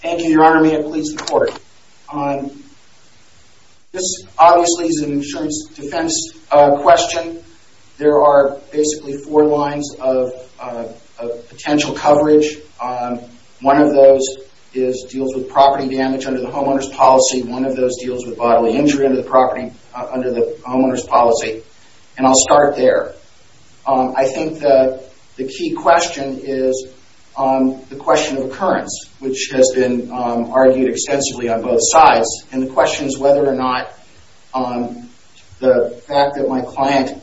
Thank you, Your Honor. May it please the Court. This obviously is an insurance defense question. There are basically four lines of potential coverage. One of those deals with property damage under the homeowner's policy. One of those deals with bodily injury under the homeowner's policy. And I'll start there. I think the key question is the question of occurrence, which has been argued extensively on both sides. And the question is whether or not the fact that my client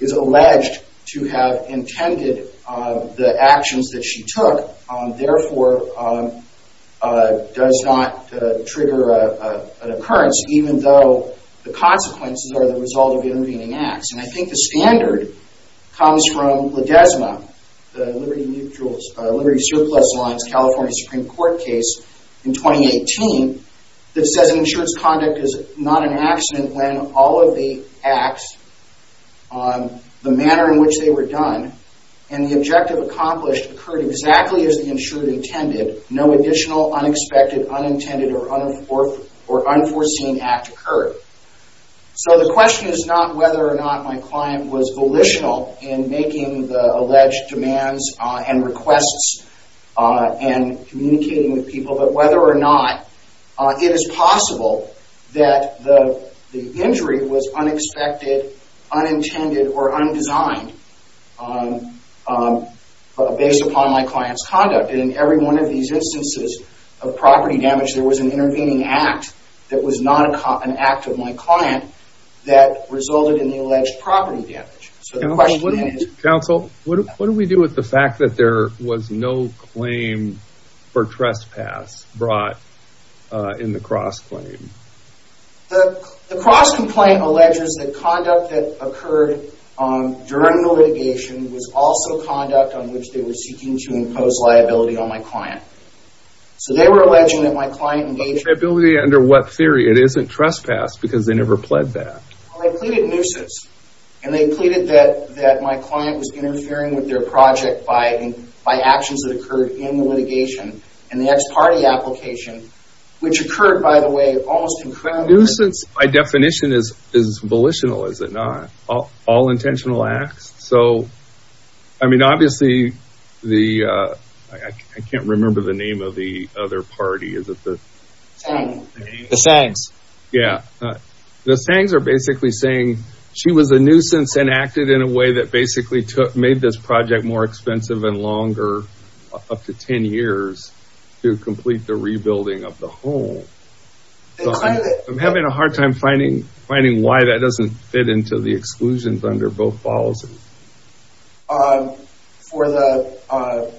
is alleged to have intended the actions that she took therefore does not trigger an occurrence, even though the consequences are the result of intervening acts. And I think the standard comes from Ledesma, the Liberty Surplus Alliance California Supreme Court case in 2018 that says an insured's conduct is not an accident when all of the acts, the manner in which they were done, and the objective accomplished occurred exactly as the insured intended. No additional unexpected, unintended, or unforeseen act occurred. So the question is not whether or not my client was volitional in making the alleged demands and requests and communicating with people, but whether or not it is possible that the injury was unexpected, unintended, or undesigned based upon my client's conduct. And in every one of these instances of property damage, there was an intervening act that was not an act of my client that resulted in the alleged property damage. So the question is... Counsel, what do we do with the fact that there was no claim for trespass brought in the cross-claim? The cross-complaint alleges that conduct that occurred during the litigation was also conduct on which they were seeking to impose liability on my client. So they were alleging that my client engaged in... Liability under what theory? It isn't trespass because they never pled that. Well, they pleaded nuisance. And they pleaded that my client was interfering with their project by actions that occurred in the litigation in the ex parte application, which occurred, by the way, almost incredibly... Nuisance, by definition, is volitional, is it not? All intentional acts. So, I mean, obviously, the... I can't remember the name of the other party. Is it the... The Sangs. Yeah. The Sangs are basically saying she was a nuisance and acted in a way that basically made this project more expensive and longer, up to 10 years, to complete the rebuilding of the home. I'm having a hard time finding why that doesn't fit into the exclusions under both policies. For the...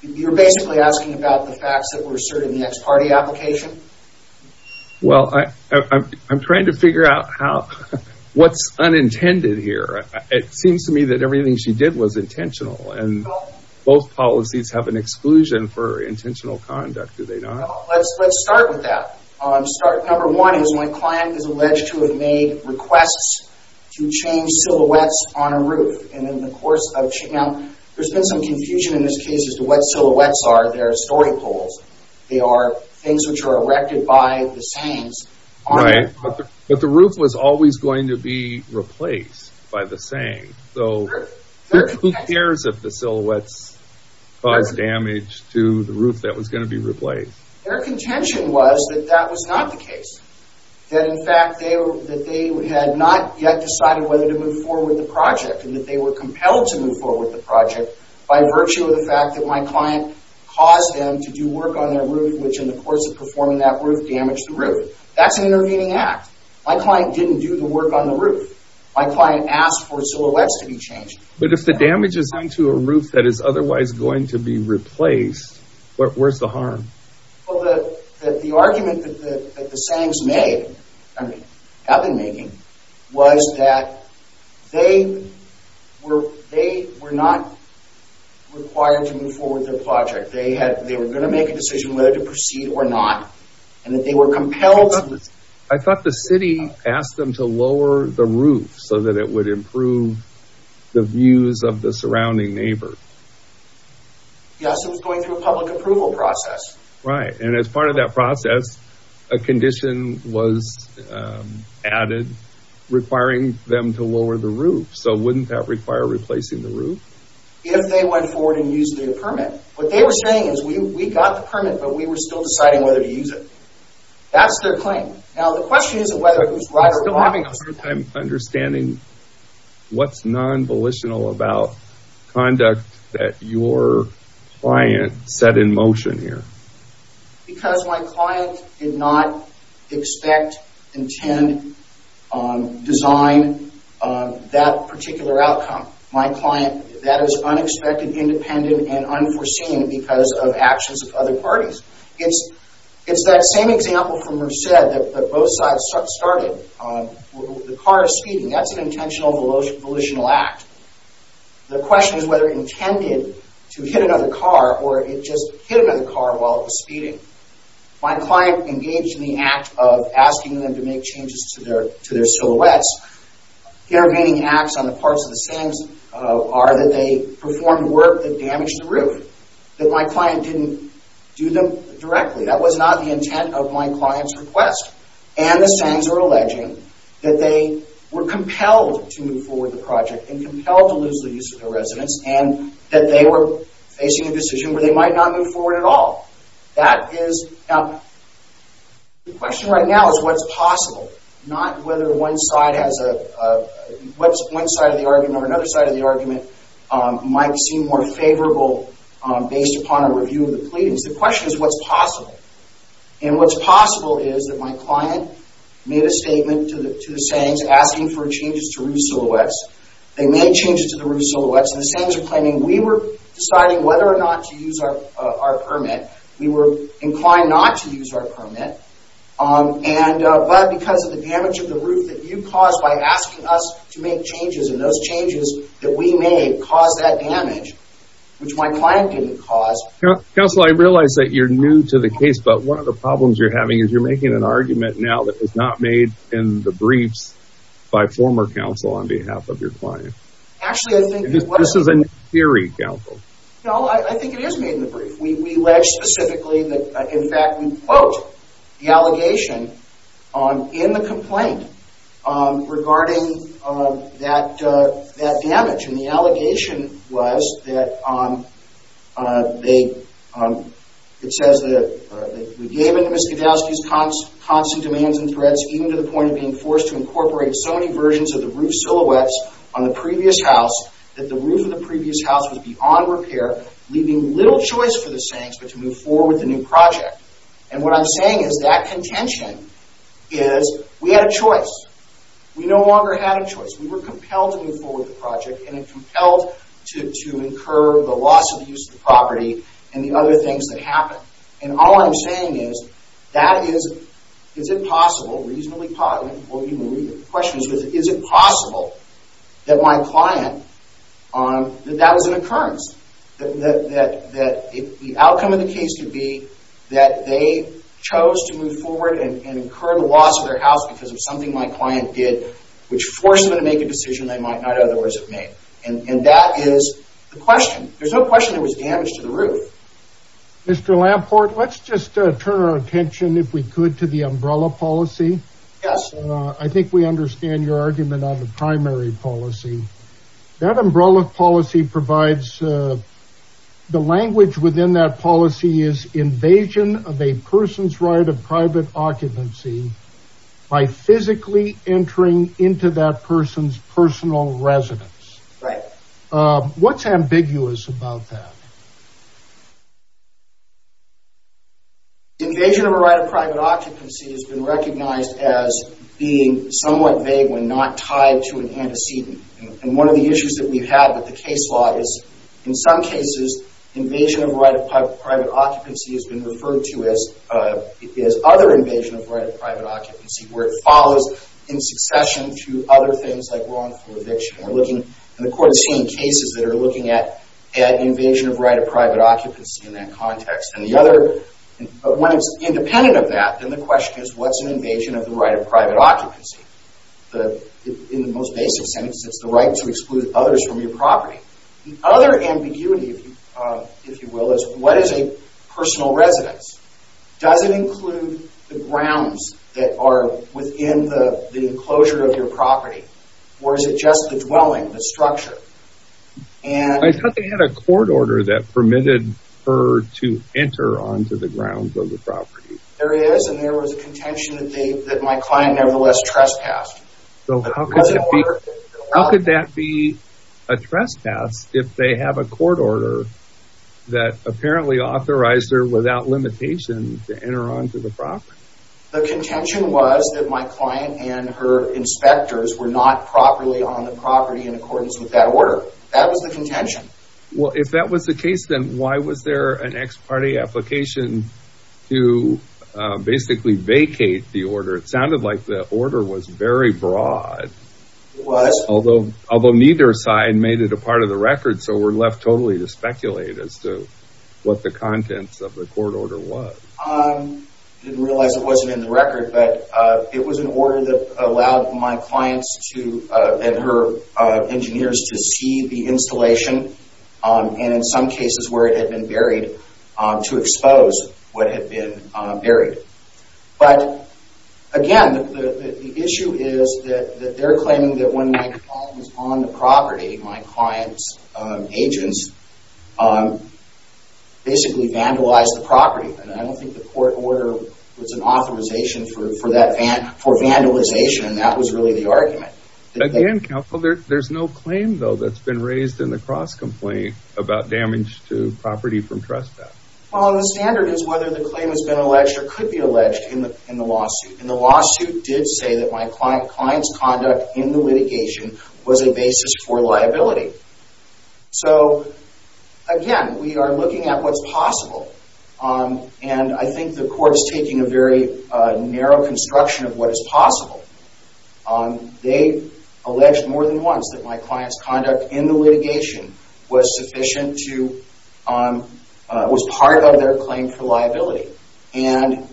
You're basically asking about the facts that were asserted in the ex parte application? Well, I'm trying to figure out how... What's unintended here? It seems to me that everything she did was intentional. And both policies have an exclusion for intentional conduct, do they not? Let's start with that. Number one is when a client is alleged to have made requests to change silhouettes on a roof. And in the course of... Now, there's been some confusion in this case as to what silhouettes are. They're story poles. They are things which are erected by the Sangs on the roof. But the roof was always going to be replaced by the Sangs. Who cares if the silhouettes caused damage to the roof that was going to be replaced? Their contention was that that was not the case. That in fact they had not yet decided whether to move forward with the project and that they were compelled to move forward with the project by virtue of the fact that my client caused them to do work on their roof, which in the course of performing that work damaged the roof. That's an intervening act. My client didn't do the work on the roof. My client asked for silhouettes to be changed. But if the damage is done to a roof that is otherwise going to be replaced, where's the harm? Well, the argument that the Sangs made, have been making, was that they were not required to move forward with their project. They were going to make a decision whether to proceed or not. And that they were compelled... I thought the city asked them to lower the roof so that it would improve the views of the surrounding neighbor. Yes, it was going through a public approval process. Right, and as part of that process, a condition was added requiring them to lower the roof. So wouldn't that require replacing the roof? If they went forward and used the permit. What they were saying is we got the permit, but we were still deciding whether to use it. That's their claim. Now the question is whether it was right or wrong. I'm still having a hard time understanding what's non-volitional about conduct that your client set in motion here. Because my client did not expect, intend, design that particular outcome. My client, that is unexpected, independent, and unforeseen because of actions of other parties. It's that same example from Merced that both sides started. The car is speeding. That's an intentional volitional act. The question is whether it intended to hit another car or it just hit another car while it was speeding. My client engaged in the act of asking them to make changes to their silhouettes. Intervening acts on the parts of the same are that they performed work that damaged the roof. That my client didn't do them directly. That was not the intent of my client's request. And the Sengs are alleging that they were compelled to move forward the project and compelled to lose the use of their residence and that they were facing a decision where they might not move forward at all. The question right now is what's possible. Not whether one side of the argument or another side of the argument might seem more favorable based upon a review of the pleadings. The question is what's possible. And what's possible is that my client made a statement to the Sengs asking for changes to roof silhouettes. They made changes to the roof silhouettes. The Sengs are claiming we were deciding whether or not to use our permit. We were inclined not to use our permit. But because of the damage of the roof that you caused by asking us to make changes and those changes that we made caused that damage, which my client didn't cause. Counsel, I realize that you're new to the case, but one of the problems you're having is you're making an argument now that was not made in the briefs by former counsel on behalf of your client. Actually, I think it was. This is a theory, counsel. No, I think it is made in the brief. We allege specifically that, in fact, we quote the allegation in the complaint regarding that damage. And the allegation was that they, it says that we gave in to Miskevowsky's constant demands and threats even to the point of being forced to incorporate so many versions of the roof silhouettes on the previous house that the roof of the previous house was beyond repair, leaving little choice for the Sengs but to move forward with the new project. And what I'm saying is that contention is we had a choice. We no longer had a choice. We were compelled to move forward with the project and compelled to incur the loss of the use of the property and the other things that happened. And all I'm saying is that is, is it possible, reasonably possible, the question is, is it possible that my client, that that was an occurrence, that the outcome of the case could be that they chose to move forward and incur the loss of their house because of something my client did which forced them to make a decision they might not otherwise have made. And that is the question. There's no question there was damage to the roof. Mr. Lamport, let's just turn our attention, if we could, to the umbrella policy. Yes. I think we understand your argument on the primary policy. That umbrella policy provides, the language within that policy is invasion of a person's right of private occupancy by physically entering into that person's personal residence. Right. What's ambiguous about that? Invasion of a right of private occupancy has been recognized as being somewhat vague when not tied to an antecedent. And one of the issues that we've had with the case law is, in some cases, invasion of a right of private occupancy has been referred to as other invasion of a right of private occupancy where it follows in succession to other things like wrongful eviction. And the court is seeing cases that are looking at invasion of right of private occupancy in that context. And when it's independent of that, then the question is, what's an invasion of the right of private occupancy? In the most basic sense, it's the right to exclude others from your property. The other ambiguity, if you will, is what is a personal residence? Does it include the grounds that are within the enclosure of your property? Or is it just the dwelling, the structure? I thought they had a court order that permitted her to enter onto the grounds of the property. There is, and there was a contention that my client nevertheless trespassed. How could that be a trespass if they have a court order that apparently authorized her without limitation to enter onto the property? The contention was that my client and her inspectors were not properly on the property in accordance with that order. That was the contention. Well, if that was the case, then why was there an ex parte application to basically vacate the order? It sounded like the order was very broad. It was. Although neither side made it a part of the record, so we're left totally to speculate as to what the contents of the court order was. I didn't realize it wasn't in the record, but it was an order that allowed my clients and her engineers to see the installation, and in some cases where it had been buried, to expose what had been buried. But, again, the issue is that they're claiming that when my client was on the property, my client's agents basically vandalized the property. I don't think the court order was an authorization for vandalization, and that was really the argument. Again, Counselor, there's no claim, though, that's been raised in the cross-complaint about damage to property from trespass. Well, the standard is whether the claim has been alleged or could be alleged in the lawsuit, and the lawsuit did say that my client's conduct in the litigation was a basis for liability. So, again, we are looking at what's possible, and I think the court is taking a very narrow construction of what is possible. They alleged more than once that my client's conduct in the litigation was sufficient to, was part of their claim for liability. And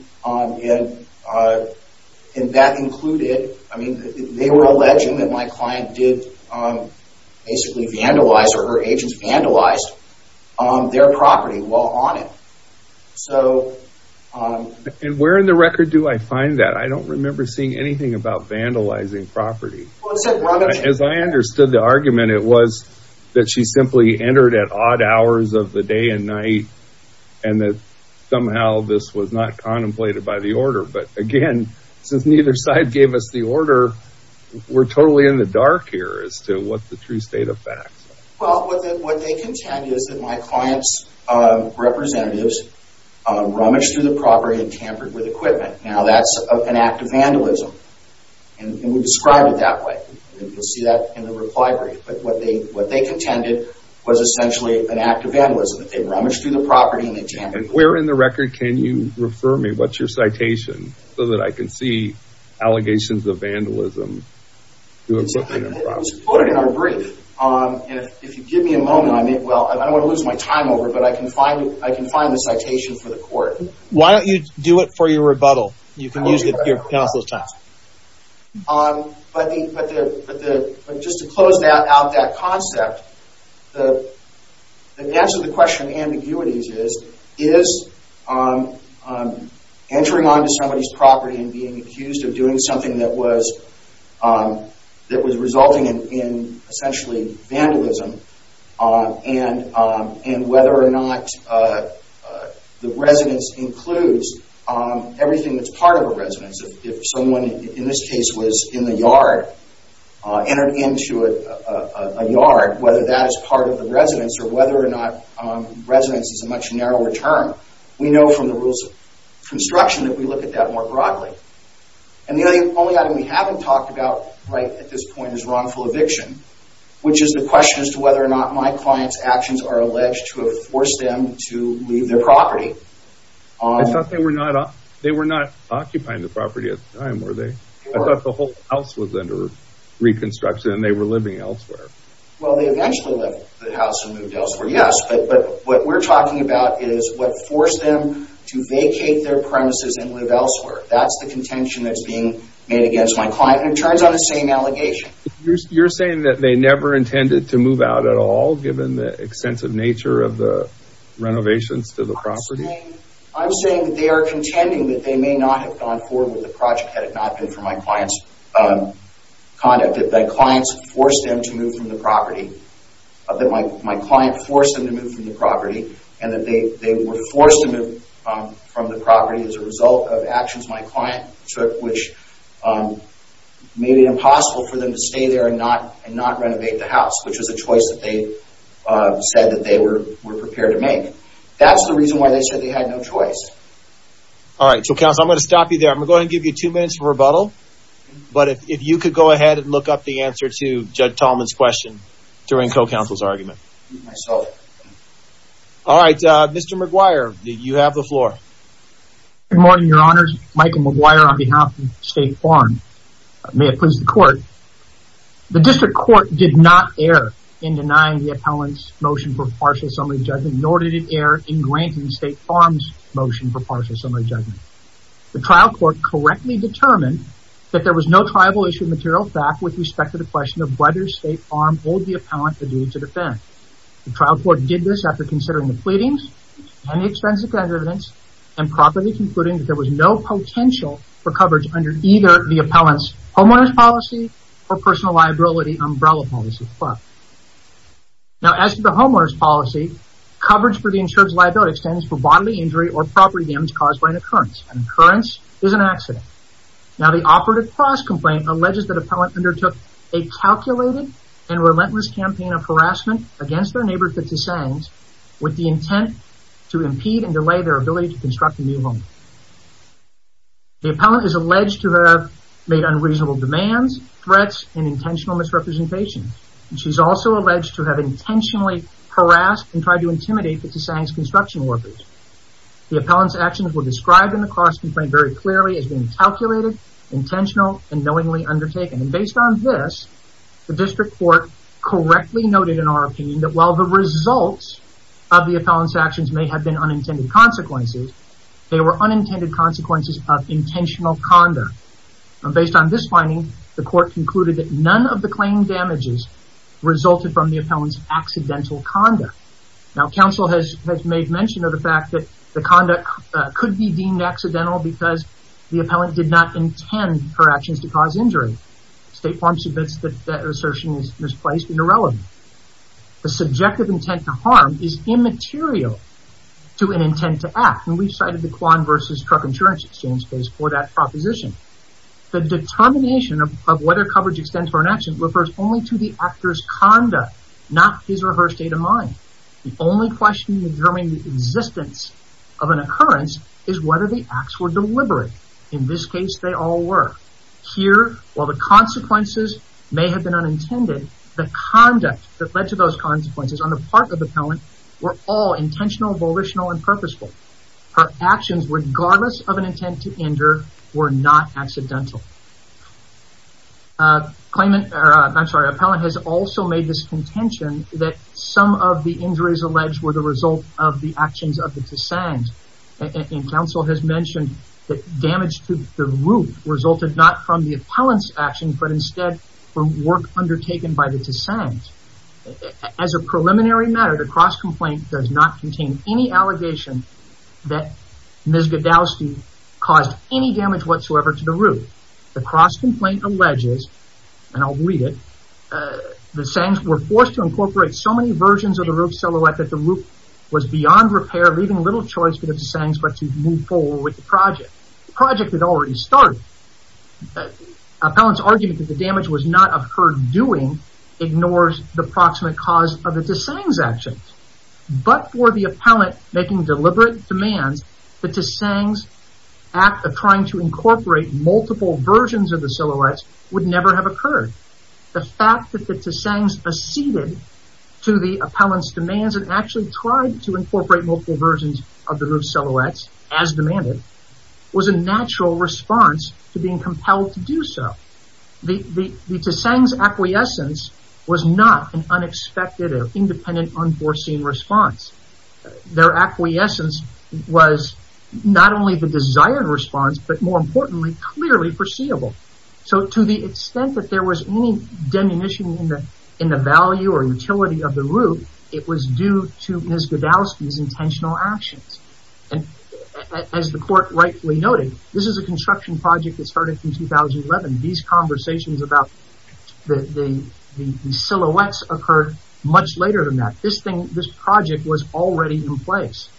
that included, I mean, they were alleging that my client did basically vandalize or her agents vandalized their property while on it. And where in the record do I find that? I don't remember seeing anything about vandalizing property. As I understood the argument, it was that she simply entered at odd hours of the day and night, and that somehow this was not contemplated by the order. But, again, since neither side gave us the order, we're totally in the dark here as to what the true state of facts. Well, what they contend is that my client's representatives rummaged through the property and tampered with equipment. Now, that's an act of vandalism, and we described it that way. You'll see that in the reply brief. But what they contended was essentially an act of vandalism. They rummaged through the property and they tampered with it. And where in the record can you refer me? What's your citation so that I can see allegations of vandalism to equipment and property? It was quoted in our brief. If you give me a moment, I may, well, I don't want to lose my time over it, but I can find the citation for the court. Why don't you do it for your rebuttal? You can use your counsel's time. But just to close out that concept, the answer to the question of ambiguities is, is entering onto somebody's property and being accused of doing something that was resulting in, essentially, vandalism, and whether or not the residence includes everything that's part of a residence. If someone, in this case, was in the yard, entered into a yard, whether that is part of the residence, or whether or not residence is a much narrower term, we know from the rules of construction that we look at that more broadly. And the only item we haven't talked about right at this point is wrongful eviction, which is the question as to whether or not my client's actions are alleged to have forced them to leave their property. I thought they were not occupying the property at the time, were they? I thought the whole house was under reconstruction and they were living elsewhere. Well, they eventually left the house and moved elsewhere, yes, but what we're talking about is what forced them to vacate their premises and live elsewhere. That's the contention that's being made against my client, and it turns out the same allegation. You're saying that they never intended to move out at all, given the extensive nature of the renovations to the property? I'm saying that they are contending that they may not have gone forward with the project had it not been for my client's conduct, that my client forced them to move from the property, and that they were forced to move from the property as a result of actions my client took, which made it impossible for them to stay there and not renovate the house, which was a choice that they said that they were prepared to make. That's the reason why they said they had no choice. All right, so counsel, I'm going to stop you there. I'm going to go ahead and give you two minutes for rebuttal, but if you could go ahead and look up the answer to Judge Tallman's question during co-counsel's argument. All right, Mr. McGuire, you have the floor. Good morning, Your Honors. Michael McGuire on behalf of State Farm. May it please the Court. The district court did not err in denying the appellant's motion for partial summary judgment, nor did it err in granting State Farm's motion for partial summary judgment. The trial court correctly determined that there was no tribal-issued material fact with respect to the question The trial court did this after considering the pleadings and the extensive evidence and properly concluding that there was no potential for coverage under either the appellant's homeowner's policy or personal liability umbrella policy. Now, as to the homeowner's policy, coverage for the insured's liability stands for bodily injury or property damage caused by an occurrence. An occurrence is an accident. Now, the operative cross-complaint alleges that appellant undertook a calculated and relentless campaign of harassment against their neighbor, Fitzisangs, with the intent to impede and delay their ability to construct a new home. The appellant is alleged to have made unreasonable demands, threats, and intentional misrepresentation. She's also alleged to have intentionally harassed and tried to intimidate Fitzisangs' construction workers. The appellant's actions were described in the cross-complaint very clearly as being calculated, intentional, and knowingly undertaken. Based on this, the district court correctly noted in our opinion that while the results of the appellant's actions may have been unintended consequences, they were unintended consequences of intentional condor. Based on this finding, the court concluded that none of the claimed damages resulted from the appellant's accidental condor. Now, counsel has made mention of the fact that the condor could be deemed accidental because the appellant did not intend her actions to cause injury. State Farm submits that that assertion is misplaced and irrelevant. The subjective intent to harm is immaterial to an intent to act, and we've cited the Quan v. Truck Insurance Exchange case for that proposition. The determination of whether coverage extends for an action refers only to the actor's condor, not his or her state of mind. The only question in determining the existence of an occurrence is whether the acts were deliberate. In this case, they all were. Here, while the consequences may have been unintended, the conduct that led to those consequences on the part of the appellant were all intentional, volitional, and purposeful. Her actions, regardless of an intent to injure, were not accidental. Appellant has also made this contention that some of the injuries alleged were the result of the actions of the dissent, and counsel has mentioned that damage to the roof resulted not from the appellant's action, but instead from work undertaken by the dissent. As a preliminary matter, the cross-complaint does not contain any allegation that Ms. Godowsky caused any damage whatsoever to the roof. The cross-complaint alleges, and I'll read it, the dissents were forced to incorporate so many versions of the roof silhouette that the roof was beyond repair, leaving little choice but if the dissents were to move forward with the project. The project had already started. Appellant's argument that the damage was not of her doing ignores the proximate cause of the dissent's actions. But for the appellant making deliberate demands, the dissent's act of trying to incorporate multiple versions of the silhouettes would never have occurred. The fact that the dissent acceded to the appellant's demands and actually tried to incorporate multiple versions of the roof silhouettes, as demanded, was a natural response to being compelled to do so. The dissent's acquiescence was not an unexpected or independent unforeseen response. Their acquiescence was not only the desired response, but more importantly, clearly foreseeable. So to the extent that there was any diminution in the value or utility of the roof, it was due to Ms. Godowsky's intentional actions. And as the court rightfully noted, this is a construction project that started in 2011. These conversations about the silhouettes occurred much later than that. This project was already in place.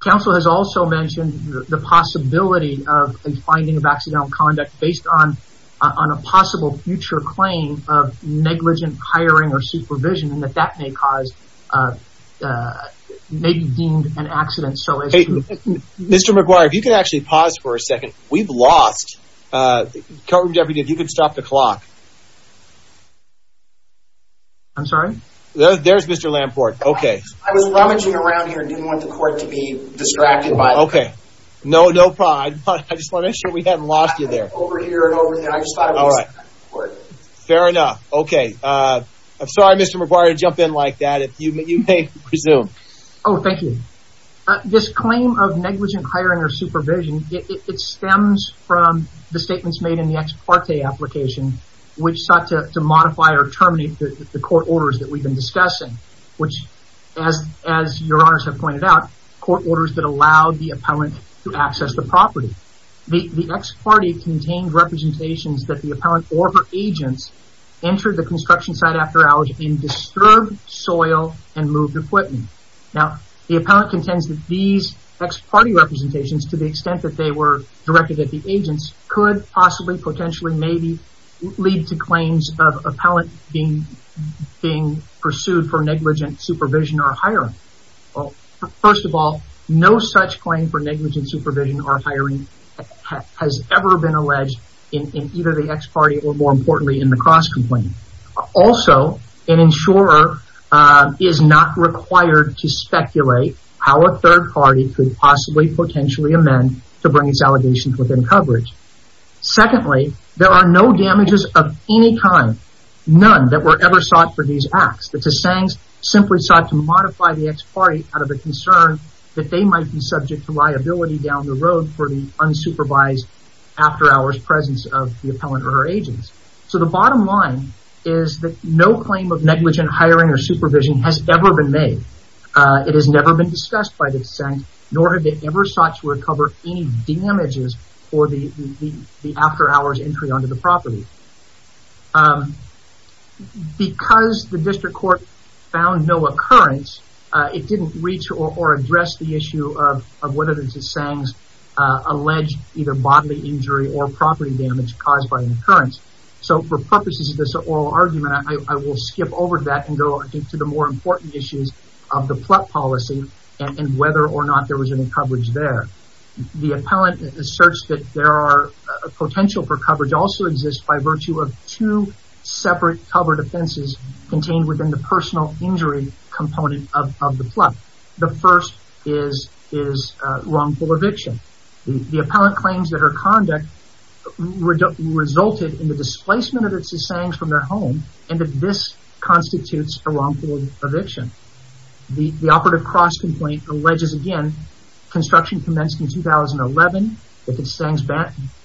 Council has also mentioned the possibility of a finding of accidental conduct based on a possible future claim of negligent hiring or supervision and that that may cause, may be deemed an accident so as to... Hey, Mr. McGuire, if you could actually pause for a second. We've lost... Courtroom deputy, if you could stop the clock. I'm sorry? There's Mr. Lamport. Okay. I was rummaging around here and didn't want the court to be distracted by... Okay. No, no pride. I just want to make sure we haven't lost you there. Over here and over there. I just thought it was... Fair enough. Okay. I'm sorry, Mr. McGuire, to jump in like that. You may resume. Oh, thank you. This claim of negligent hiring or supervision, it stems from the statements made in the ex parte application which sought to modify or terminate the court orders that we've been discussing, which, as your honors have pointed out, court orders that allowed the appellant to access the property. The ex parte contained representations that the appellant or her agents entered the construction site after hours in disturbed soil and moved equipment. Now, the appellant contends that these ex parte representations, to the extent that they were directed at the agents, could possibly, potentially, maybe, lead to claims of appellant being pursued for negligent supervision or hiring. Well, first of all, no such claim for negligent supervision or hiring has ever been alleged in either the ex parte or, more importantly, in the cross-complaint. Also, an insurer is not required to speculate how a third party could possibly, potentially, amend to bring its allegations within coverage. Secondly, there are no damages of any kind, none, that were ever sought for these acts. It's a saying simply sought to modify the ex parte out of a concern that they might be subject to liability down the road for the unsupervised after-hours presence of the appellant or her agents. So, the bottom line is that no claim of negligent hiring or supervision has ever been made. It has never been discussed by the dissent, nor have they ever sought to recover any damages for the after-hours entry onto the property. Because the district court found no occurrence, it didn't reach or address the issue of whether there's a saying alleged either bodily injury or property damage caused by an occurrence. So, for purposes of this oral argument, I will skip over that and go to the more important issues of the plot policy and whether or not there was any coverage there. The appellant asserts that there are potential for coverage also exists by virtue of two separate cover defenses contained within the personal injury component of the plot. The first is wrongful eviction. The appellant claims that her conduct resulted in the displacement of the Tsangs from their home and that this constitutes a wrongful eviction. The operative cross-complaint alleges again construction commenced in 2011, that the Tsangs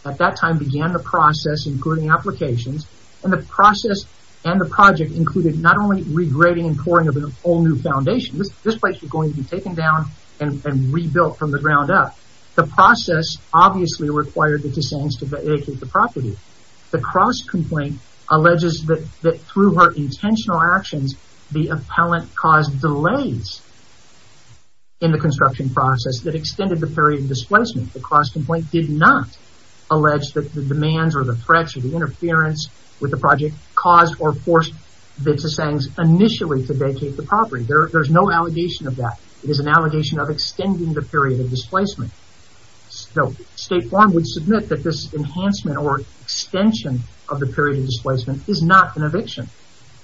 at that time began the process including applications and the process and the project included not only regrading and pouring of a whole new foundation. This place was going to be taken down and rebuilt from the ground up. The process obviously required the Tsangs to vacate the property. The cross-complaint alleges that through her intentional actions, the appellant caused delays in the construction process that extended the period of displacement. The cross-complaint did not allege that the demands or the threats or the interference with the project caused or forced the Tsangs initially to vacate the property. There is no allegation of that. It is an allegation of extending the period of displacement. State form would submit that this enhancement or extension of the period of displacement is not an eviction.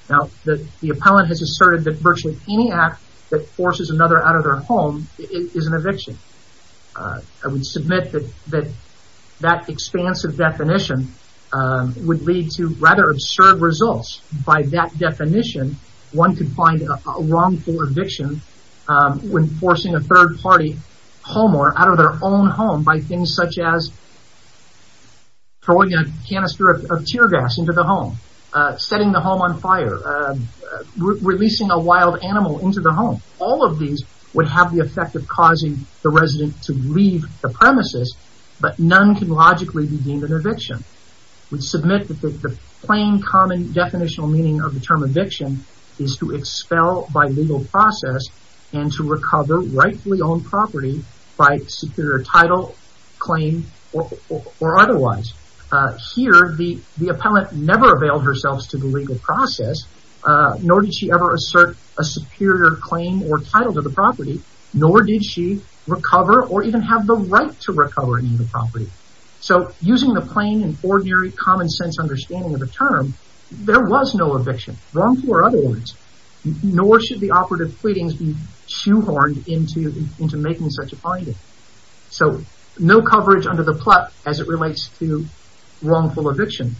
Now, the appellant has asserted that virtually any act that forces another out of their home is an eviction. I would submit that that expansive definition would lead to rather absurd results. By that definition, one could find a wrongful eviction when forcing a third party homeowner out of their own home by things such as throwing a canister of tear gas into the home, setting the home on fire, releasing a wild animal into the home. All of these would have the effect of causing the resident to leave the premises, but none can logically be deemed an eviction. We submit that the plain, common, definitional meaning of the term eviction is to expel by legal process and to recover rightfully owned property by superior title, claim, or otherwise. Here, the appellant never availed herself to the legal process, nor did she ever assert a superior claim or title to the property, nor did she recover or even have the right to recover any of the property. So, using the plain and ordinary common sense understanding of the term, there was no eviction, wrongful or otherwise, nor should the operative pleadings be shoehorned into making such a finding. So, no coverage under the plot as it relates to wrongful eviction.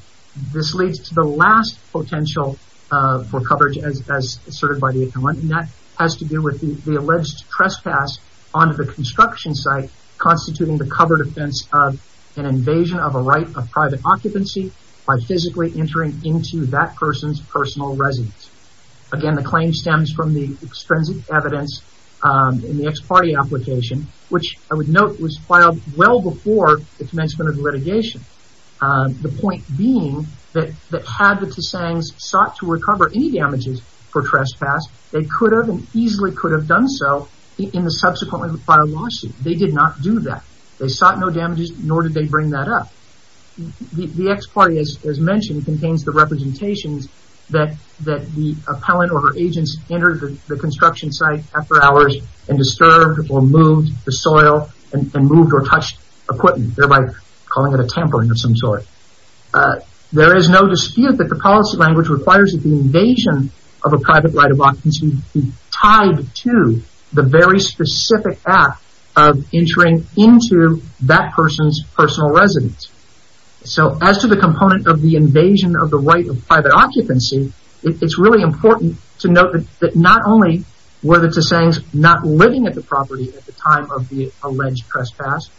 This leads to the last potential for coverage as asserted by the appellant, and that has to do with the alleged trespass onto the construction site, constituting the cover defense of an invasion of a right of private occupancy by physically entering into that person's personal residence. Again, the claim stems from the extrinsic evidence in the ex parte application, which I would note was filed well before the commencement of the litigation. The point being that had the Tsangs sought to recover any damages for trespass, they could have and easily could have done so in the subsequently filed lawsuit. They did not do that. They sought no damages, nor did they bring that up. The ex parte, as mentioned, contains the representations that the appellant or her agents entered the construction site after hours and disturbed or moved the soil and moved or touched equipment, thereby calling it a tampering of some sort. There is no dispute that the policy language requires that the invasion of a private right of occupancy be tied to the very specific act of entering into that person's personal residence. So, as to the component of the invasion of the right of private occupancy, it's really important to note that not only were the Tsangs not living at the property at the time of the alleged trespass,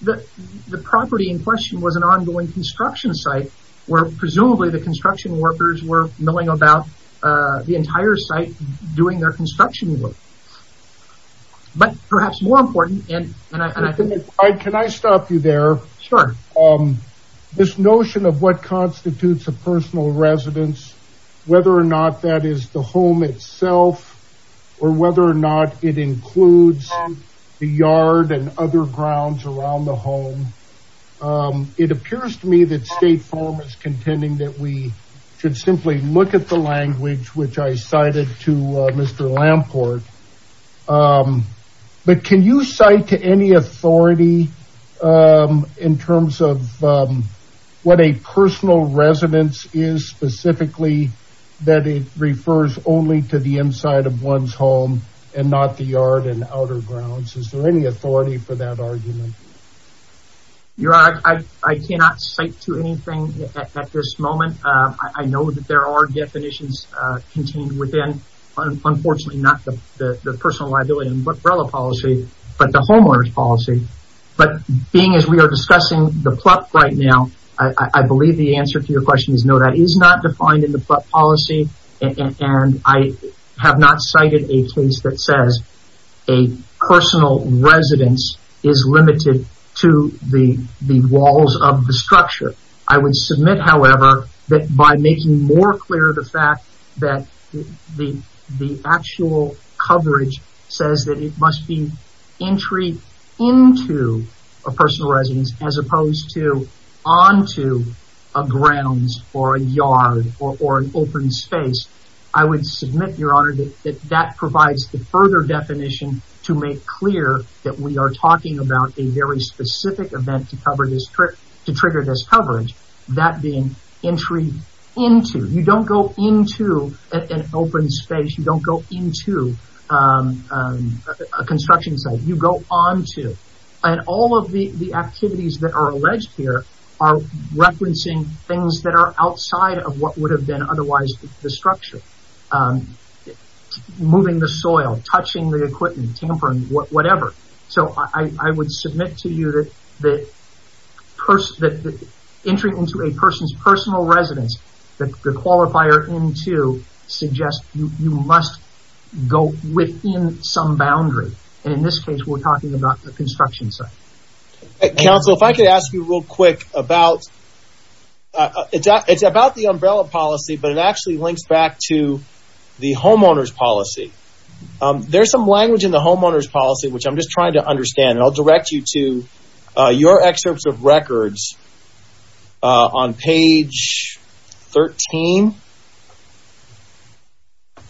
the property in question was an ongoing construction site where presumably the construction workers were milling about the entire site doing their construction work. But perhaps more important, and I think... Can I stop you there? Sure. This notion of what constitutes a personal residence, whether or not that is the home itself or whether or not it includes the yard and other grounds around the home, it appears to me that State Farm is contending that we should simply look at the language which I cited to Mr. Lamport. But can you cite to any authority in terms of what a personal residence is specifically that it refers only to the inside of one's home and not the yard and outer grounds? Is there any authority for that argument? Your Honor, I cannot cite to anything at this moment. I know that there are definitions contained within, unfortunately, not the personal liability umbrella policy, but the homeowner's policy. But being as we are discussing the PLUP right now, I believe the answer to your question is no, that is not defined in the PLUP policy, and I have not cited a case that says a personal residence is limited to the walls of the structure. I would submit, however, that by making more clear the fact that the actual coverage says that it must be entry into a personal residence as opposed to onto a grounds or a yard or an open space. I would submit, Your Honor, that that provides the further definition to make clear that we are talking about a very specific event to trigger this coverage, that being entry into. You don't go into an open space. You don't go into a construction site. You go onto, and all of the activities that are alleged here are referencing things that are outside of what would have been otherwise the structure. Moving the soil, touching the equipment, tampering, whatever. So, I would submit to you that entering into a person's personal residence that the qualifier into suggests you must go within some boundary. In this case, we're talking about the construction site. Counsel, if I could ask you real quick about, it's about the umbrella policy, but it actually links back to the homeowner's policy. There's some language in the homeowner's policy, which I'm just trying to understand, and I'll direct you to your excerpts of records on page 13.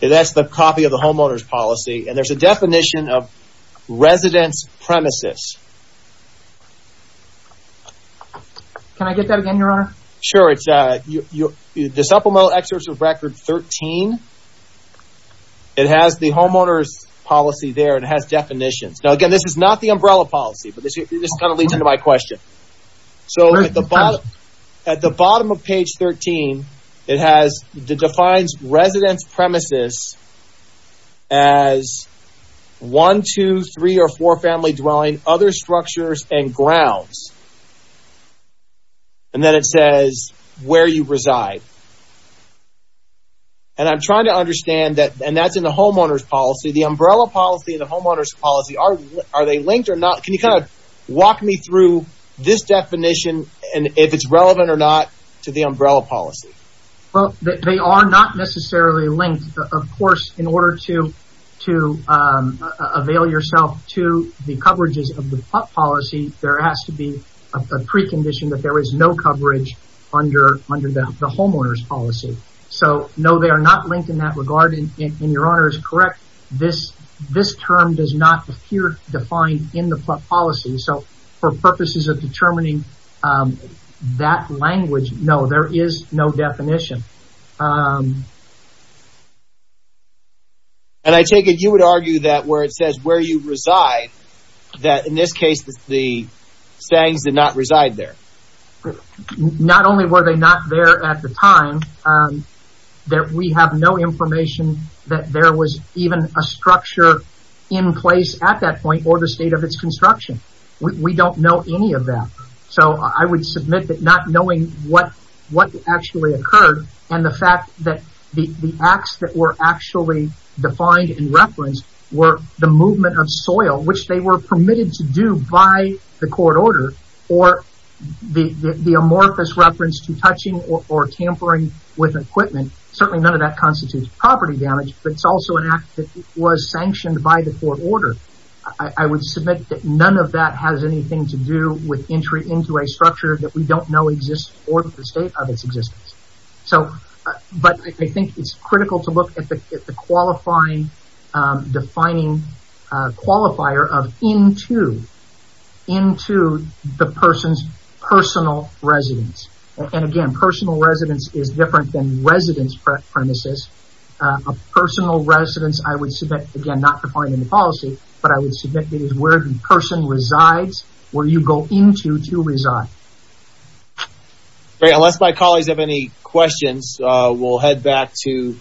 That's the copy of the homeowner's policy, and there's a definition of residence premises. Can I get that again, Your Honor? Sure. The supplemental excerpts of record 13, it has the homeowner's policy there, and it has definitions. Now, again, this is not the umbrella policy, but this kind of leads into my question. So, at the bottom of page 13, it defines residence premises as one, two, three, or four-family dwelling, other structures, and grounds. And then it says where you reside. And I'm trying to understand that, and that's in the homeowner's policy. The umbrella policy and the homeowner's policy, are they linked or not? Can you kind of walk me through this definition, and if it's relevant or not to the umbrella policy? Well, they are not necessarily linked. Of course, in order to avail yourself to the coverages of the PLUP policy, there has to be a precondition that there is no coverage under the homeowner's policy. So, no, they are not linked in that regard, and Your Honor is correct. This term does not appear defined in the PLUP policy. So, for purposes of determining that language, no, there is no definition. And I take it you would argue that where it says where you reside, that in this case, the sayings did not reside there. Not only were they not there at the time, that we have no information that there was even a structure in place at that point or the state of its construction. We don't know any of that. So, I would submit that not knowing what actually occurred and the fact that the acts that were actually defined and referenced were the movement of soil, which they were permitted to do by the court order, or the amorphous reference to touching or tampering with equipment. Certainly, none of that constitutes property damage, but it's also an act that was sanctioned by the court order. I would submit that none of that has anything to do with entry into a structure that we don't know exists or the state of its existence. So, but I think it's critical to look at the qualifying, defining qualifier of into. Into the person's personal residence. And again, personal residence is different than residence premises. A personal residence, I would submit, again, not defining the policy, but I would submit it is where the person resides, where you go into to reside. Great. Unless my colleagues have any questions, we'll head back to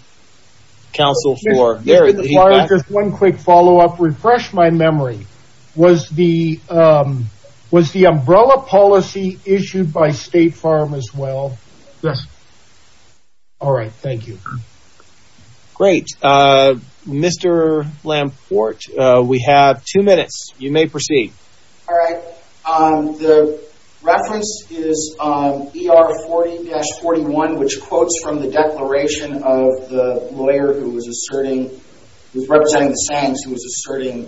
counsel for their feedback. Just one quick follow-up. Refresh my memory. Was the umbrella policy issued by State Farm as well? Yes. All right. Thank you. Great. Mr. Lamport, we have two minutes. You may proceed. All right. The reference is ER 40-41, which quotes from the declaration of the lawyer who was asserting, who was representing the Sands, who was asserting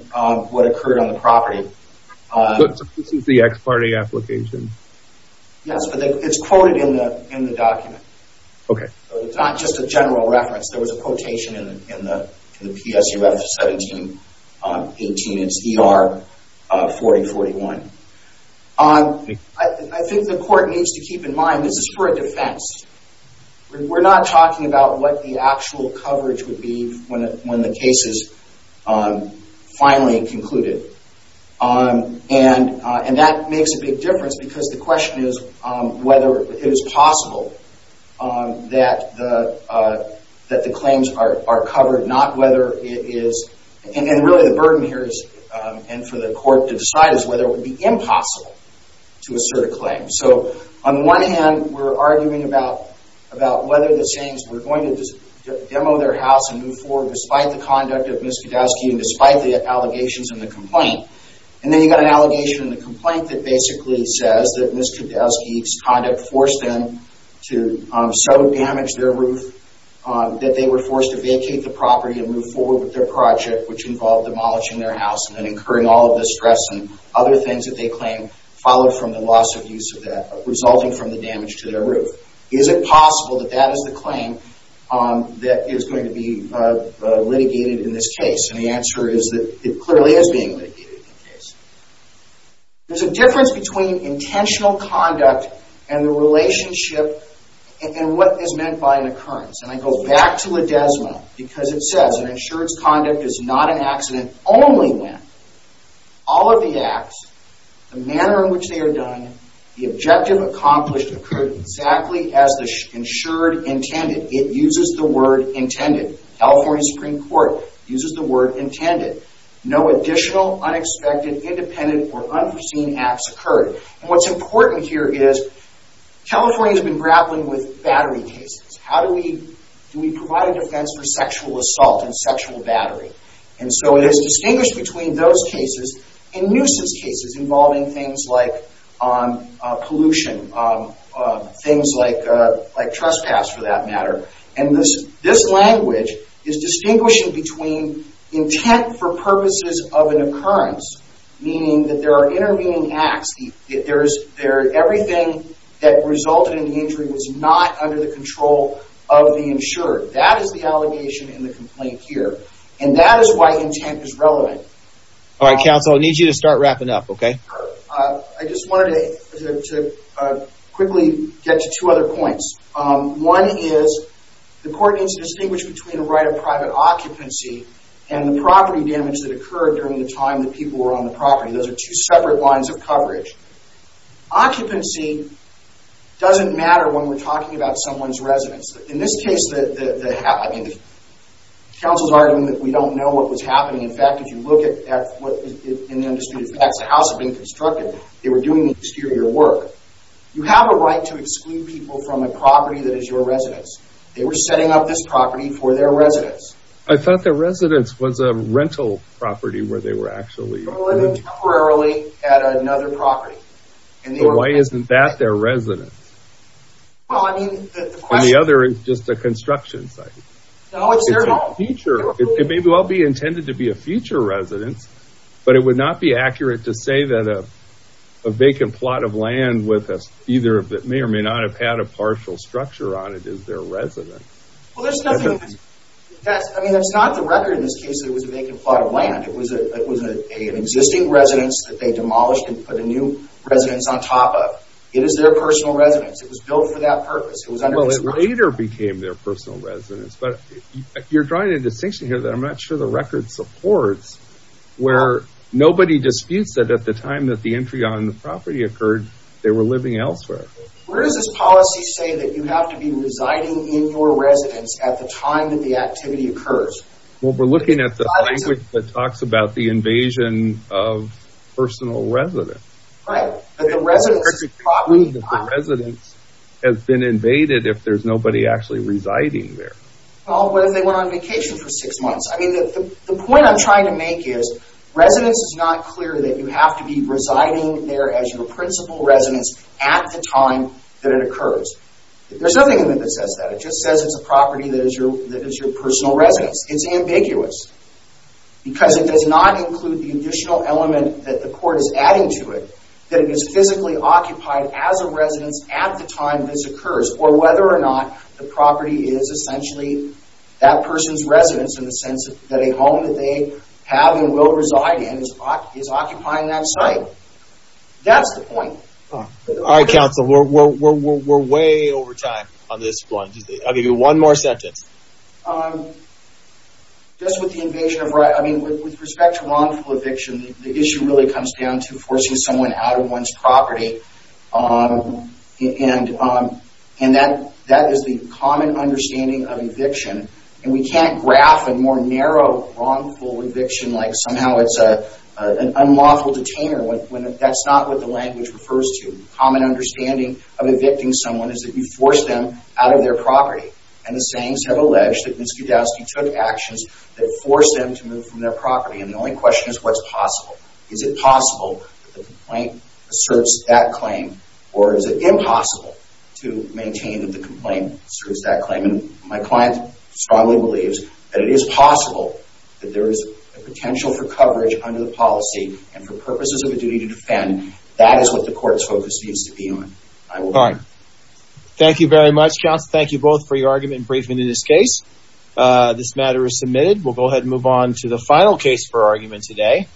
what occurred on the property. This is the ex parte application? Yes, but it's quoted in the document. Okay. It's not just a general reference. There was a quotation in the PSUF 1718. It's ER 40-41. I think the court needs to keep in mind this is for a defense. We're not talking about what the actual coverage would be when the case is finally concluded. And that makes a big difference because the question is whether it is possible that the claims are covered, not whether it is. And really the burden here is, and for the court to decide, is whether it would be impossible to assert a claim. So on the one hand, we're arguing about whether the Sands were going to demo their house and move forward despite the conduct of Ms. Kodowsky and despite the allegations in the complaint. And then you've got an allegation in the complaint that basically says that Ms. Kodowsky's conduct forced them to so damage their roof that they were forced to vacate the property and move forward with their project, which involved demolishing their house and then incurring all of the stress and other things that they claim, followed from the loss of use of that, resulting from the damage to their roof. Is it possible that that is the claim that is going to be litigated in this case? And the answer is that it clearly is being litigated in the case. There's a difference between intentional conduct and the relationship and what is meant by an occurrence. And I go back to Ledesma because it says, an insured's conduct is not an accident only when all of the acts, the manner in which they are done, the objective accomplished, occurred exactly as the insured intended. It uses the word intended. California Supreme Court uses the word intended. No additional, unexpected, independent, or unforeseen acts occurred. And what's important here is California's been grappling with battery cases. How do we provide a defense for sexual assault and sexual battery? And so it is distinguished between those cases and nooses cases involving things like pollution, things like trespass for that matter. And this language is distinguishing between intent for purposes of an occurrence, meaning that there are intervening acts. Everything that resulted in the injury was not under the control of the insured. That is the allegation in the complaint here. And that is why intent is relevant. All right, counsel, I need you to start wrapping up, okay? I just wanted to quickly get to two other points. One is the court needs to distinguish between a right of private occupancy and the property damage that occurred during the time that people were on the property. Those are two separate lines of coverage. Occupancy doesn't matter when we're talking about someone's residence. In this case, the... counsel's arguing that we don't know what was happening. In fact, if you look at what is in the undisputed facts, the house had been constructed. They were doing the exterior work. You have a right to exclude people from a property that is your residence. They were setting up this property for their residence. I thought their residence was a rental property where they were actually... They were living temporarily at another property. Why isn't that their residence? Well, I mean, the question... And the other is just a construction site. No, it's their home. It may well be intended to be a future residence, but it would not be accurate to say that a vacant plot of land with either... that may or may not have had a partial structure on it is their residence. Well, there's nothing... I mean, that's not the record in this case that it was a vacant plot of land. It was an existing residence that they demolished and put a new residence on top of. It is their personal residence. It was built for that purpose. Well, it later became their personal residence, but you're drawing a distinction here that I'm not sure the record supports where nobody disputes that at the time that the entry on the property occurred, they were living elsewhere. Where does this policy say that you have to be residing in your residence at the time that the activity occurs? Well, we're looking at the language that talks about the invasion of personal residence. Right, but the residence... The residence has been invaded if there's nobody actually residing there. Well, what if they went on vacation for six months? I mean, the point I'm trying to make is residence is not clear that you have to be residing there as your principal residence at the time that it occurs. There's nothing in it that says that. It just says it's a property that is your personal residence. It's ambiguous. Because it does not include the additional element that the court is adding to it that it is physically occupied as a residence at the time this occurs, or whether or not the property is essentially that person's residence in the sense that a home that they have and will reside in is occupying that site. That's the point. All right, counsel. We're way over time on this one. I'll give you one more sentence. Just with the invasion of... I mean, with respect to wrongful eviction, the issue really comes down to forcing someone out of one's property. And that is the common understanding of eviction. And we can't graph a more narrow wrongful eviction like somehow it's an unlawful detainer when that's not what the language refers to. The common understanding of evicting someone is that you force them out of their property. And the sayings have alleged that Minsky-Dowski took actions that forced them to move from their property. And the only question is, what's possible? Is it possible that the complaint asserts that claim? Or is it impossible to maintain that the complaint asserts that claim? And my client strongly believes that it is possible that there is a potential for coverage under the policy and for purposes of the duty to defend, that is what the court's focus needs to be on. Thank you very much, counsel. Thank you both for your argument and briefing in this case. This matter is submitted. We'll go ahead and move on to the final case for argument today.